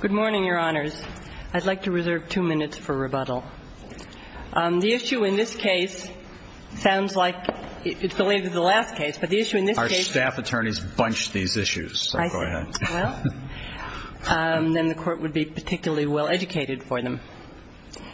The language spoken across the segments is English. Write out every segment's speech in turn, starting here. Good morning, Your Honors. I'd like to reserve two minutes for rebuttal. The issue in this case sounds like it's related to the last case, but the issue in this case Our staff attorneys bunched these issues, so go ahead. I see. Well, then the Court would be particularly well educated for them.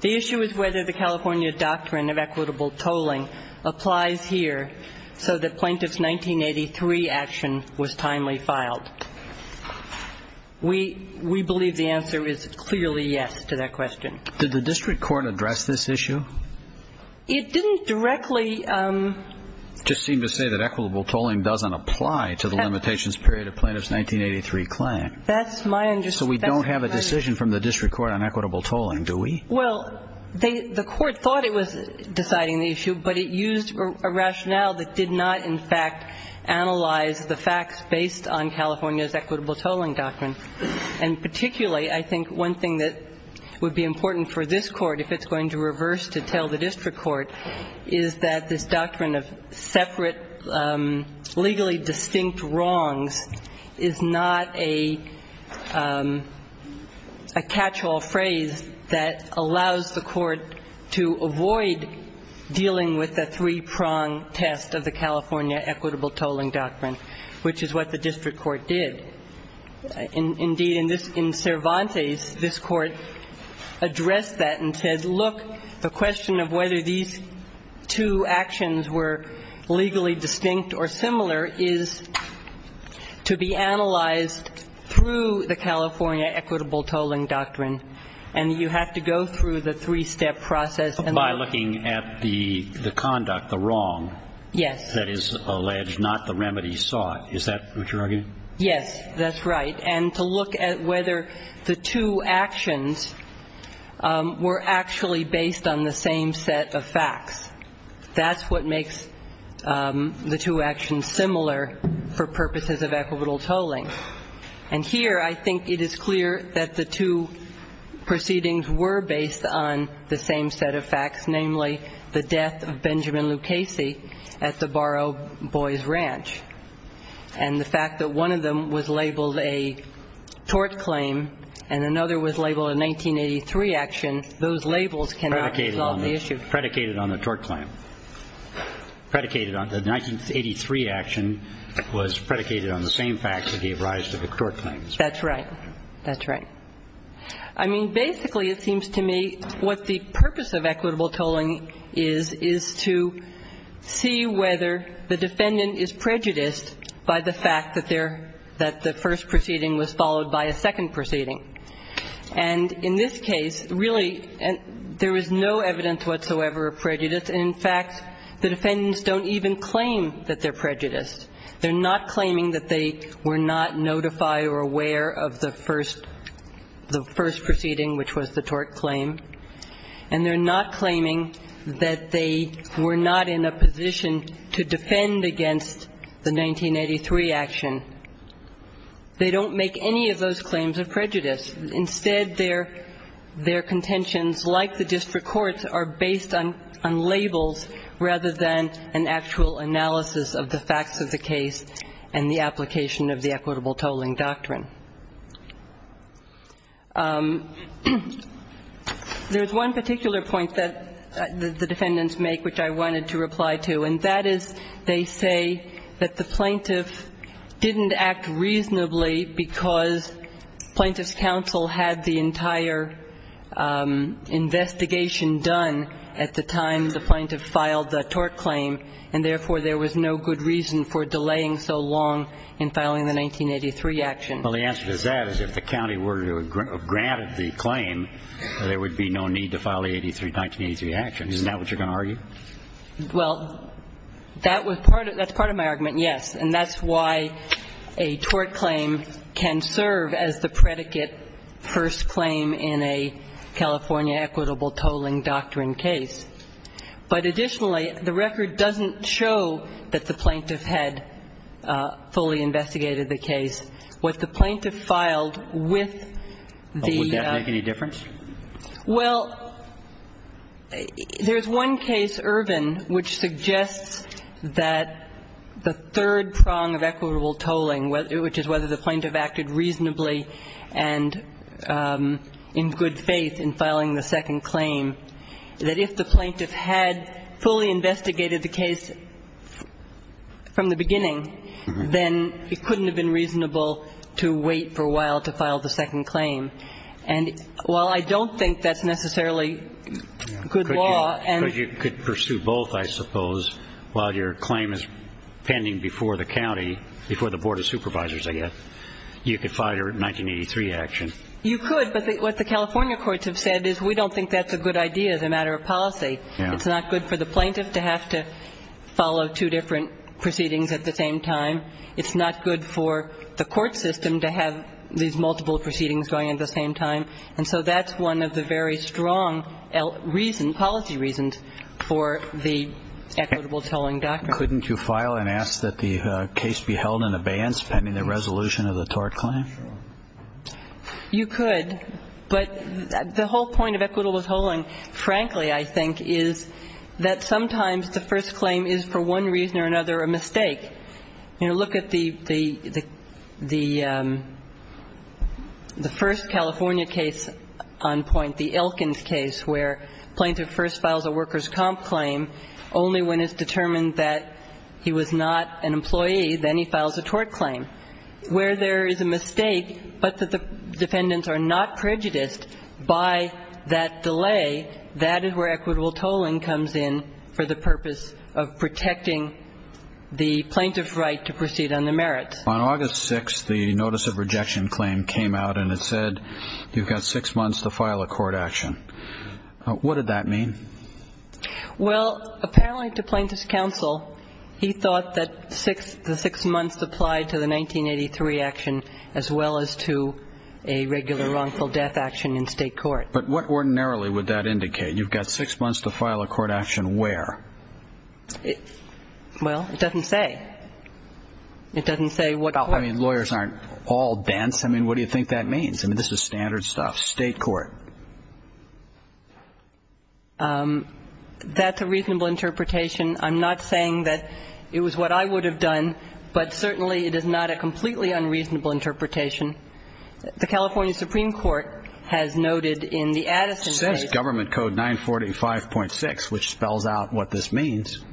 The issue is whether the California Doctrine of Equitable Tolling applies here so that Plaintiff's 1983 action was timely filed. We believe the answer is clearly yes to that question. Did the District Court address this issue? It didn't directly It just seemed to say that equitable tolling doesn't apply to the limitations period of Plaintiff's 1983 claim. That's my understanding. So we don't have a decision from the District Court on equitable tolling, do we? Well, the Court thought it was deciding the issue, but it used a rationale that did not, in fact, analyze the facts based on California's equitable tolling doctrine. And particularly, I think one thing that would be important for this Court, if it's going to reverse to tell the District Court, is that this doctrine of separate legally distinct wrongs is not a catch-all phrase that allows the Court to avoid dealing with the three-prong test of the California equitable tolling doctrine, which is what the District Court did. Indeed, in Cervantes, this Court addressed that and said, look, the question of whether these two actions were legally distinct or similar is to be analyzed through the California equitable tolling doctrine, and you have to go through the three-step process. By looking at the conduct, the wrong that is alleged, not the remedy sought. Is that what you're arguing? Yes, that's right. And to look at whether the two actions were actually based on the same set of facts. That's what makes the two actions similar for purposes of equitable tolling. And here, I think it is clear that the two proceedings were based on the same set of facts, namely the death of Benjamin Lucchesi at the Borough Boys Ranch. And the fact that one of them was labeled a tort claim and another was labeled a 1983 action, those labels cannot resolve the issue. Predicated on the tort claim. Predicated on the 1983 action was predicated on the same facts that gave rise to the tort claims. That's right. That's right. I mean, basically, it seems to me what the purpose of equitable tolling is, is to see whether the defendant is prejudiced by the fact that their, that the first proceeding was followed by a second proceeding. And in this case, really, there is no evidence whatsoever of prejudice. In fact, the defendants don't even claim that they're prejudiced. They're not claiming that they were not notified or aware of the first, the first proceeding, which was the tort claim. And they're not claiming that they were not in a position to defend against the 1983 action. They don't make any of those claims of prejudice. Instead, their, their contentions, like the district courts, are based on labels rather than an actual analysis of the facts of the case and the application of the equitable tolling doctrine. There's one particular point that the defendants make, which I wanted to reply to, and that is they say that the plaintiff didn't act reasonably because plaintiff's investigation done at the time the plaintiff filed the tort claim, and therefore there was no good reason for delaying so long in filing the 1983 action. Well, the answer to that is if the county were to have granted the claim, there would be no need to file the 83, 1983 action. Isn't that what you're going to argue? Well, that was part of, that's part of my argument, yes. And that's why a tort claim can serve as the predicate first claim in a California equitable tolling doctrine case. But additionally, the record doesn't show that the plaintiff had fully investigated the case. What the plaintiff filed with the ---- Would that make any difference? Well, there's one case, Irvin, which suggests that the third prong of equitable tolling, which is whether the plaintiff acted reasonably and in good faith in filing the second claim, that if the plaintiff had fully investigated the case from the beginning, then it couldn't have been reasonable to wait for a while to file the second claim. I don't think that's necessarily good law. Because you could pursue both, I suppose, while your claim is pending before the county, before the Board of Supervisors, I guess. You could file your 1983 action. You could, but what the California courts have said is we don't think that's a good idea as a matter of policy. It's not good for the plaintiff to have to follow two different proceedings at the same time. It's not good for the court system to have these multiple proceedings going at the same time. And so that's one of the very strong reasons, policy reasons, for the equitable tolling doctrine. Couldn't you file and ask that the case be held in abeyance pending the resolution of the tort claim? You could. But the whole point of equitable tolling, frankly, I think, is that sometimes the first claim is, for one reason or another, a mistake. You know, look at the first California case on point, the Elkins case, where the plaintiff first files a workers' comp claim only when it's determined that he was not an employee. Then he files a tort claim. Where there is a mistake but that the defendants are not prejudiced by that delay, that is where equitable tolling comes in for the purpose of protecting the plaintiff's right to proceed on the merits. On August 6th, the notice of rejection claim came out and it said you've got six months to file a court action. What did that mean? Well, apparently to plaintiff's counsel, he thought that the six months applied to the 1983 action as well as to a regular wrongful death action in State court. But what ordinarily would that indicate? You've got six months to file a court action where? Well, it doesn't say. It doesn't say what court. I mean, lawyers aren't all dense. I mean, what do you think that means? I mean, this is standard stuff. State court. That's a reasonable interpretation. I'm not saying that it was what I would have done, but certainly it is not a completely unreasonable interpretation. The California Supreme Court has noted in the Addison case. It says Government Code 945.6, which spells out what this means.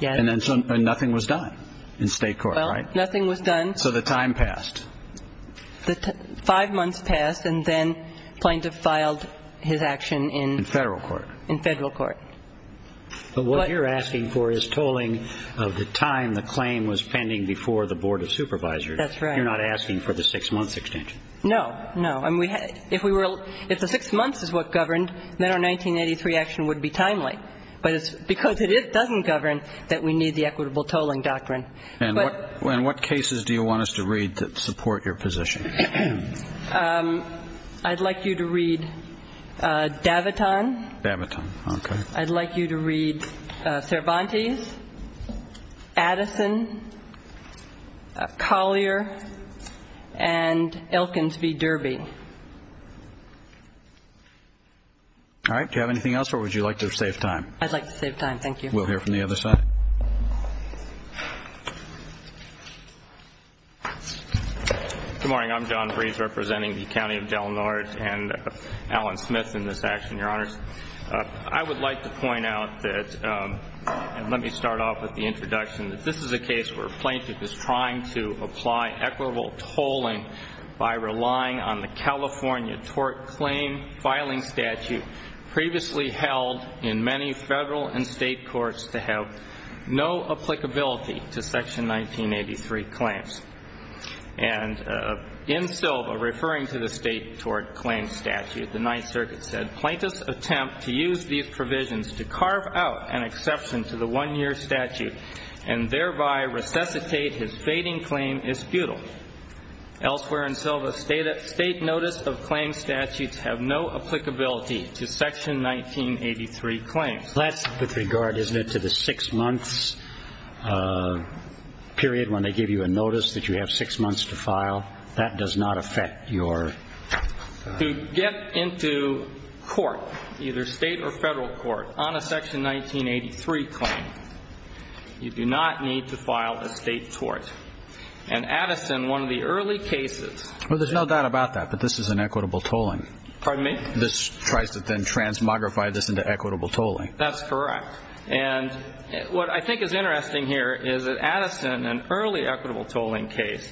Yeah. And nothing was done in State court, right? Well, nothing was done. So the time passed. Five months passed and then plaintiff filed his action in? In Federal court. In Federal court. But what you're asking for is tolling of the time the claim was pending before the Board of Supervisors. That's right. You're not asking for the six months extension. No. No. I mean, if the six months is what governed, then our 1983 action would be timely. But it's because it doesn't govern that we need the equitable tolling doctrine. And what cases do you want us to read that support your position? I'd like you to read Daviton. Daviton. Okay. I'd like you to read Cervantes, Addison, Collier, and Elkins v. Derby. All right. Do you have anything else or would you like to save time? I'd like to save time. Thank you. We'll hear from the other side. Good morning. I'm John Brees representing the County of Del Norte and Alan Smith in this action, Your Honors. I would like to point out that, and let me start off with the introduction, that this is a case where a plaintiff is trying to apply equitable tolling by relying on the California tort claim filing statute previously held in many federal and state courts to have no applicability to Section 1983 claims. And in Silva, referring to the state tort claim statute, the Ninth Circuit said, the plaintiff's attempt to use these provisions to carve out an exception to the one-year statute and thereby resuscitate his fading claim is futile. Elsewhere in Silva, state notice of claim statutes have no applicability to Section 1983 claims. That's with regard, isn't it, to the six months period when they give you a notice that you have six months to file? That does not affect your. To get into court, either state or federal court, on a Section 1983 claim, you do not need to file a state tort. And Addison, one of the early cases. Well, there's no doubt about that, but this is an equitable tolling. Pardon me? This tries to then transmogrify this into equitable tolling. That's correct. And what I think is interesting here is that Addison, an early equitable tolling case,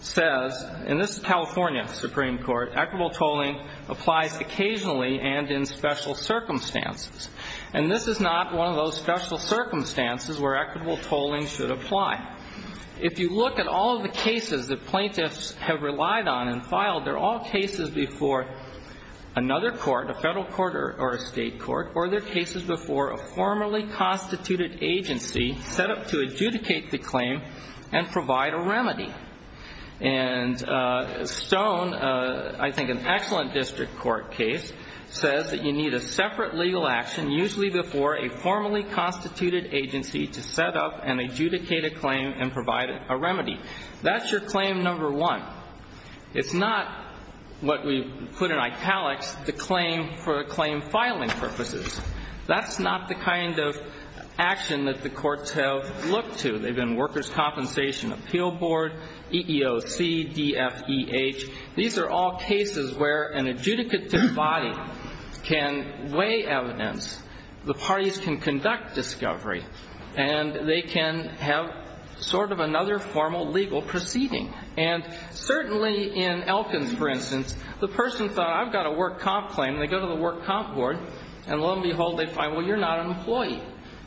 says, and this is California Supreme Court, equitable tolling applies occasionally and in special circumstances. And this is not one of those special circumstances where equitable tolling should apply. If you look at all the cases that plaintiffs have relied on and filed, they're all cases before another court, a federal court or a state court, or they're cases before a formally constituted agency set up to adjudicate the claim and provide a remedy. And Stone, I think an excellent district court case, says that you need a separate legal action, usually before a formally constituted agency to set up and adjudicate a claim and provide a remedy. That's your claim number one. It's not what we put in italics, the claim for claim filing purposes. That's not the kind of action that the courts have looked to. They've been Workers' Compensation Appeal Board, EEOC, DFEH. These are all cases where an adjudicative body can weigh evidence, the parties can conduct discovery, and they can have sort of another formal legal proceeding. And certainly in Elkins, for instance, the person thought I've got a work comp claim, and they go to the work comp board, and lo and behold, they find, well, you're not an employee.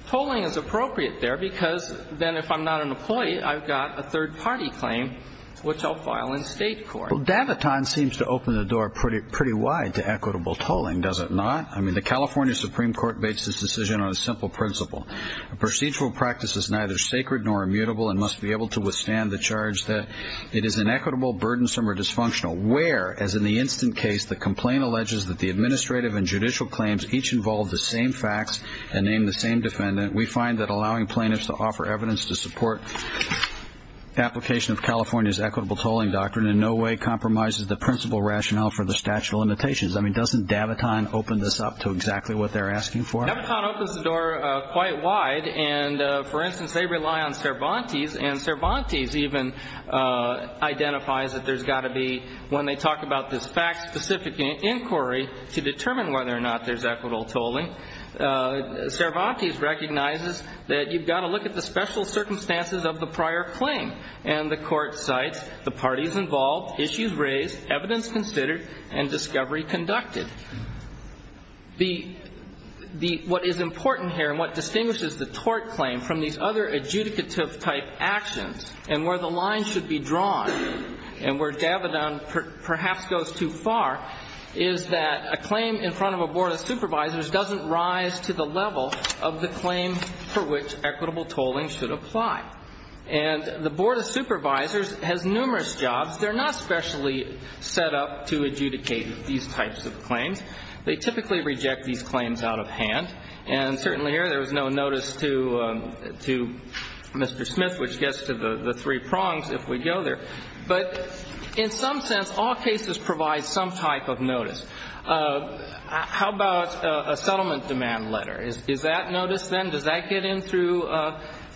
Tolling is appropriate there, because then if I'm not an employee, I've got a third party claim, which I'll file in state court. Well, Daviton seems to open the door pretty wide to equitable tolling, does it not? I mean, the California Supreme Court bates this decision on a simple principle. A procedural practice is neither sacred nor immutable and must be able to withstand the charge that it is inequitable, burdensome, or dysfunctional, where, as in the instant case, the complaint alleges that the administrative and judicial claims each involve the same facts and name the same defendant, we find that allowing plaintiffs to offer evidence to support application of California's equitable tolling doctrine in no way compromises the principle rationale for the statute of limitations. I mean, doesn't Daviton open this up to exactly what they're asking for? Daviton opens the door quite wide, and, for instance, they rely on Cervantes, and Cervantes even identifies that there's got to be, when they talk about this fact-specific inquiry, to determine whether or not there's equitable tolling. Cervantes recognizes that you've got to look at the special circumstances of the prior claim, and the court cites the parties involved, issues raised, evidence considered, and discovery conducted. What is important here and what distinguishes the tort claim from these other adjudicative-type actions and where the line should be drawn and where Daviton perhaps goes too far is that a claim in front of a board of supervisors doesn't rise to the level of the claim for which equitable tolling should apply. And the board of supervisors has numerous jobs. They're not specially set up to adjudicate these types of claims. They typically reject these claims out of hand, and certainly here there was no notice to Mr. Smith, which gets to the three prongs if we go there. But in some sense, all cases provide some type of notice. How about a settlement demand letter? Is that noticed then? Does that get in through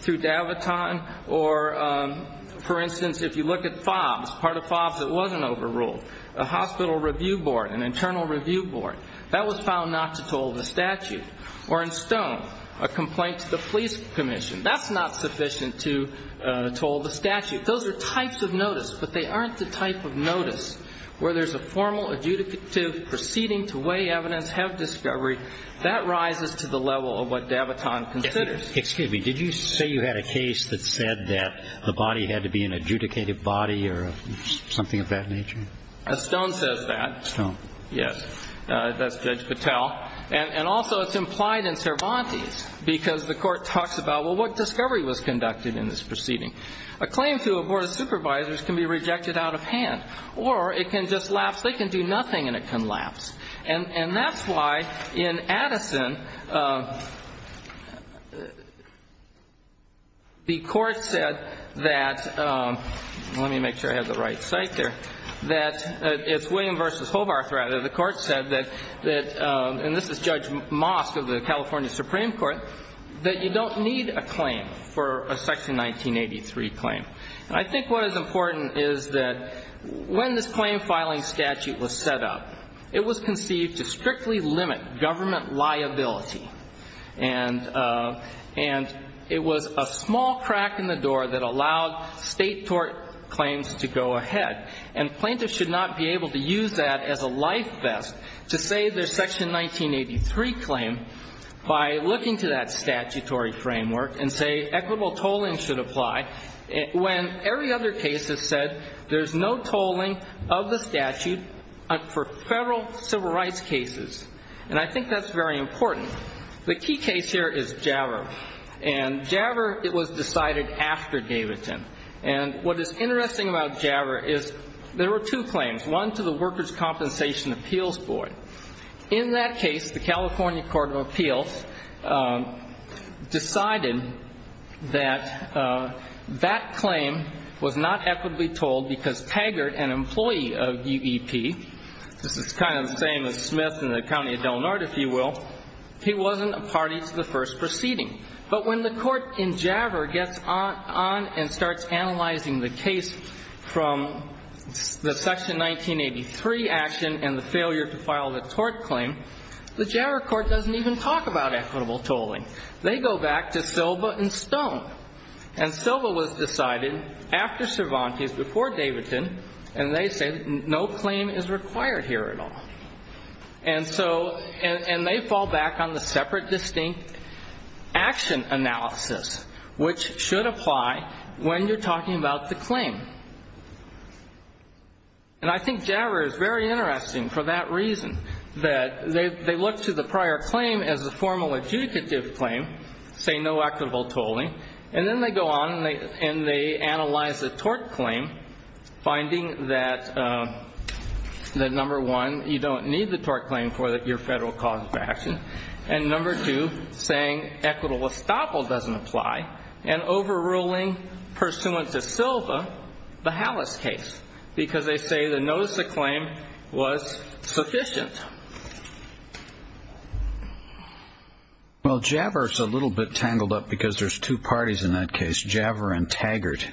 Daviton? Or, for instance, if you look at FOBS, part of FOBS that wasn't overruled, a hospital review board, an internal review board, that was found not to toll the statute. Or in Stone, a complaint to the police commission, that's not sufficient to toll the statute. Those are types of notice, but they aren't the type of notice where there's a formal adjudicative proceeding to weigh evidence, have discovery. That rises to the level of what Daviton considers. Excuse me. Did you say you had a case that said that the body had to be an adjudicated body or something of that nature? Stone says that. Stone. Yes. That's Judge Patel. And also it's implied in Cervantes because the court talks about, well, what discovery was conducted in this proceeding? A claim to a board of supervisors can be rejected out of hand. Or it can just lapse. They can do nothing and it can lapse. And that's why in Addison the court said that, let me make sure I have the right site there, that it's William v. Hovarth, rather, the court said that, and this is Judge Mosk of the California Supreme Court, that you don't need a claim for a Section 1983 claim. And I think what is important is that when this claim filing statute was set up, it was conceived to strictly limit government liability. And it was a small crack in the door that allowed state tort claims to go ahead. And plaintiffs should not be able to use that as a life vest to say there's Section 1983 claim by looking to that statutory framework and say equitable tolling should apply when every other case has said there's no tolling of the statute for federal civil rights cases. And I think that's very important. The key case here is Javver. And Javver, it was decided after Davidson. And what is interesting about Javver is there were two claims, one to the Workers' Compensation Appeals Board. In that case, the California Court of Appeals decided that that claim was not equitably tolled because Taggart, an employee of UEP, this is kind of the same as Smith in the county of Del Norte, if you will, he wasn't a party to the first proceeding. But when the court in Javver gets on and starts analyzing the case from the Section 1983 action and the failure to file the tort claim, the Javver court doesn't even talk about equitable tolling. They go back to Silva and Stone. And Silva was decided after Cervantes, before Davidson, and they say no claim is required here at all. And they fall back on the separate distinct action analysis, which should apply when you're talking about the claim. And I think Javver is very interesting for that reason, that they look to the prior claim as a formal adjudicative claim, say no equitable tolling, and then they go on and they analyze the tort claim, finding that, number one, you don't need the tort claim for your federal cause of action, and, number two, saying equitable estoppel doesn't apply and overruling pursuant to Silva the Halas case because they say the notice of claim was sufficient. Well, Javver is a little bit tangled up because there's two parties in that case, Javver and Taggart,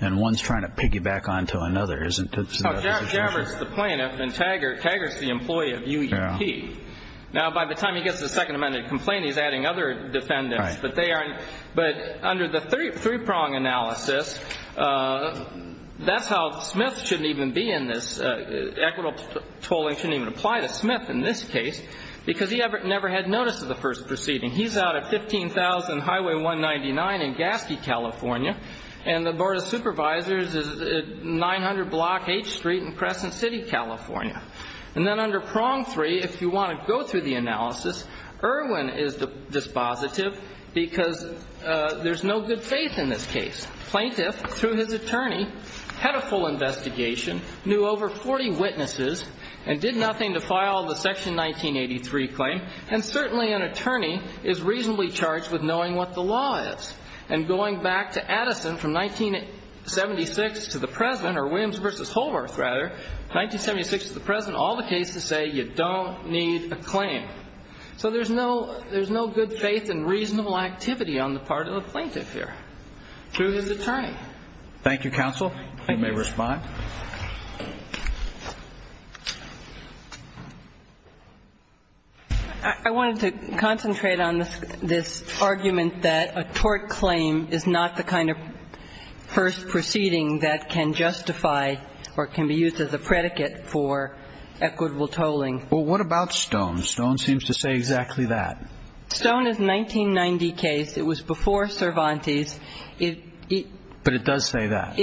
and one is trying to piggyback onto another, isn't it? No, Javver is the plaintiff and Taggart is the employee of UEP. Now, by the time he gets the Second Amendment complaint, he's adding other defendants, but under the three-prong analysis, that's how Smith shouldn't even be in this. Equitable tolling shouldn't even apply to Smith in this case because he never had notice of the first proceeding. He's out at 15,000 Highway 199 in Gaske, California, and the Board of Supervisors is at 900 Block H Street in Crescent City, California. And then under prong three, if you want to go through the analysis, Irwin is dispositive because there's no good faith in this case. Plaintiff, through his attorney, had a full investigation, knew over 40 witnesses, and did nothing to file the Section 1983 claim, and certainly an attorney is reasonably charged with knowing what the law is. And going back to Addison from 1976 to the present, or Williams v. Holmorth, rather, 1976 to the present, all the cases say you don't need a claim. So there's no good faith and reasonable activity on the part of the plaintiff here through his attorney. Thank you, counsel. You may respond. I wanted to concentrate on this argument that a tort claim is not the kind of first proceeding that can justify or can be used as a predicate for equitable tolling. Well, what about Stone? Stone seems to say exactly that. Stone is a 1990 case. It was before Cervantes. But it does say that.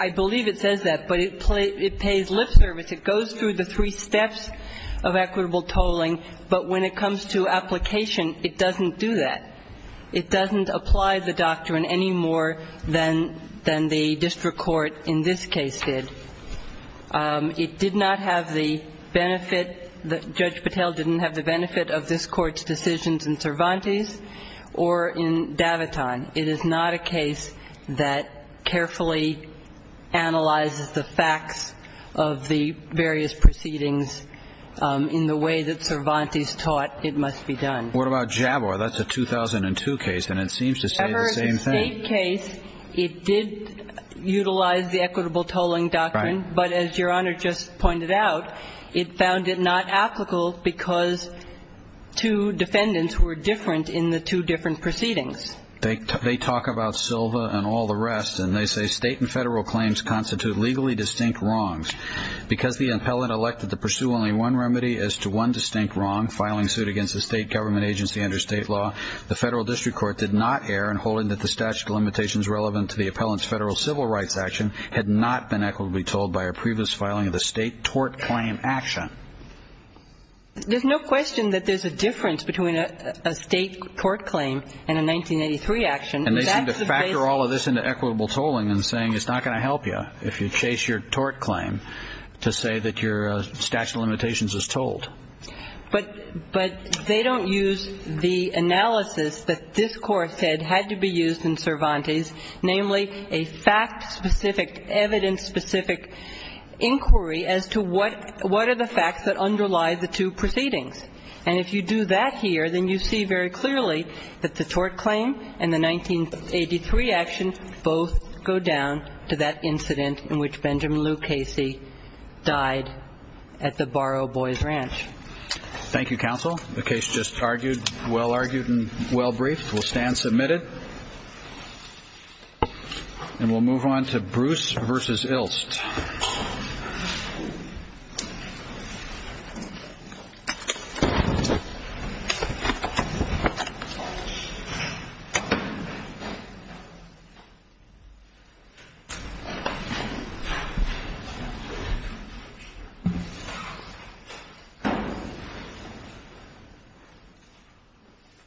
I believe it says that. But it pays lip service. It goes through the three steps of equitable tolling. But when it comes to application, it doesn't do that. It doesn't apply the doctrine any more than the district court in this case did. It did not have the benefit that Judge Patel didn't have the benefit of this Court's decisions in Cervantes or in Daviton. It is not a case that carefully analyzes the facts of the various proceedings in the way that Cervantes taught it must be done. What about Jabbaw? That's a 2002 case, and it seems to say the same thing. In the Dave case, it did utilize the equitable tolling doctrine. Right. But as Your Honor just pointed out, it found it not applicable because two defendants were different in the two different proceedings. They talk about Silva and all the rest, and they say, State and Federal claims constitute legally distinct wrongs. Because the appellant elected to pursue only one remedy as to one distinct wrong, filing suit against a State government agency under State law, the Federal district court did not err in holding that the statute of limitations relevant to the appellant's Federal civil rights action had not been equitably tolled by a previous filing of the State tort claim action. There's no question that there's a difference between a State tort claim and a 1983 action. And they seem to factor all of this into equitable tolling and saying it's not going to help you if you chase your tort claim to say that your statute of limitations is tolled. But they don't use the analysis that this Court said had to be used in Cervantes, namely a fact-specific, evidence-specific inquiry as to what are the facts that underlie the two proceedings. And if you do that here, then you see very clearly that the tort claim and the 1983 action both go down to that incident in which Benjamin Lou Casey died at the Barrow Boys Ranch. Thank you, Counsel. The case just argued, well-argued and well-briefed. We'll stand submitted. And we'll move on to Bruce v. Ilst.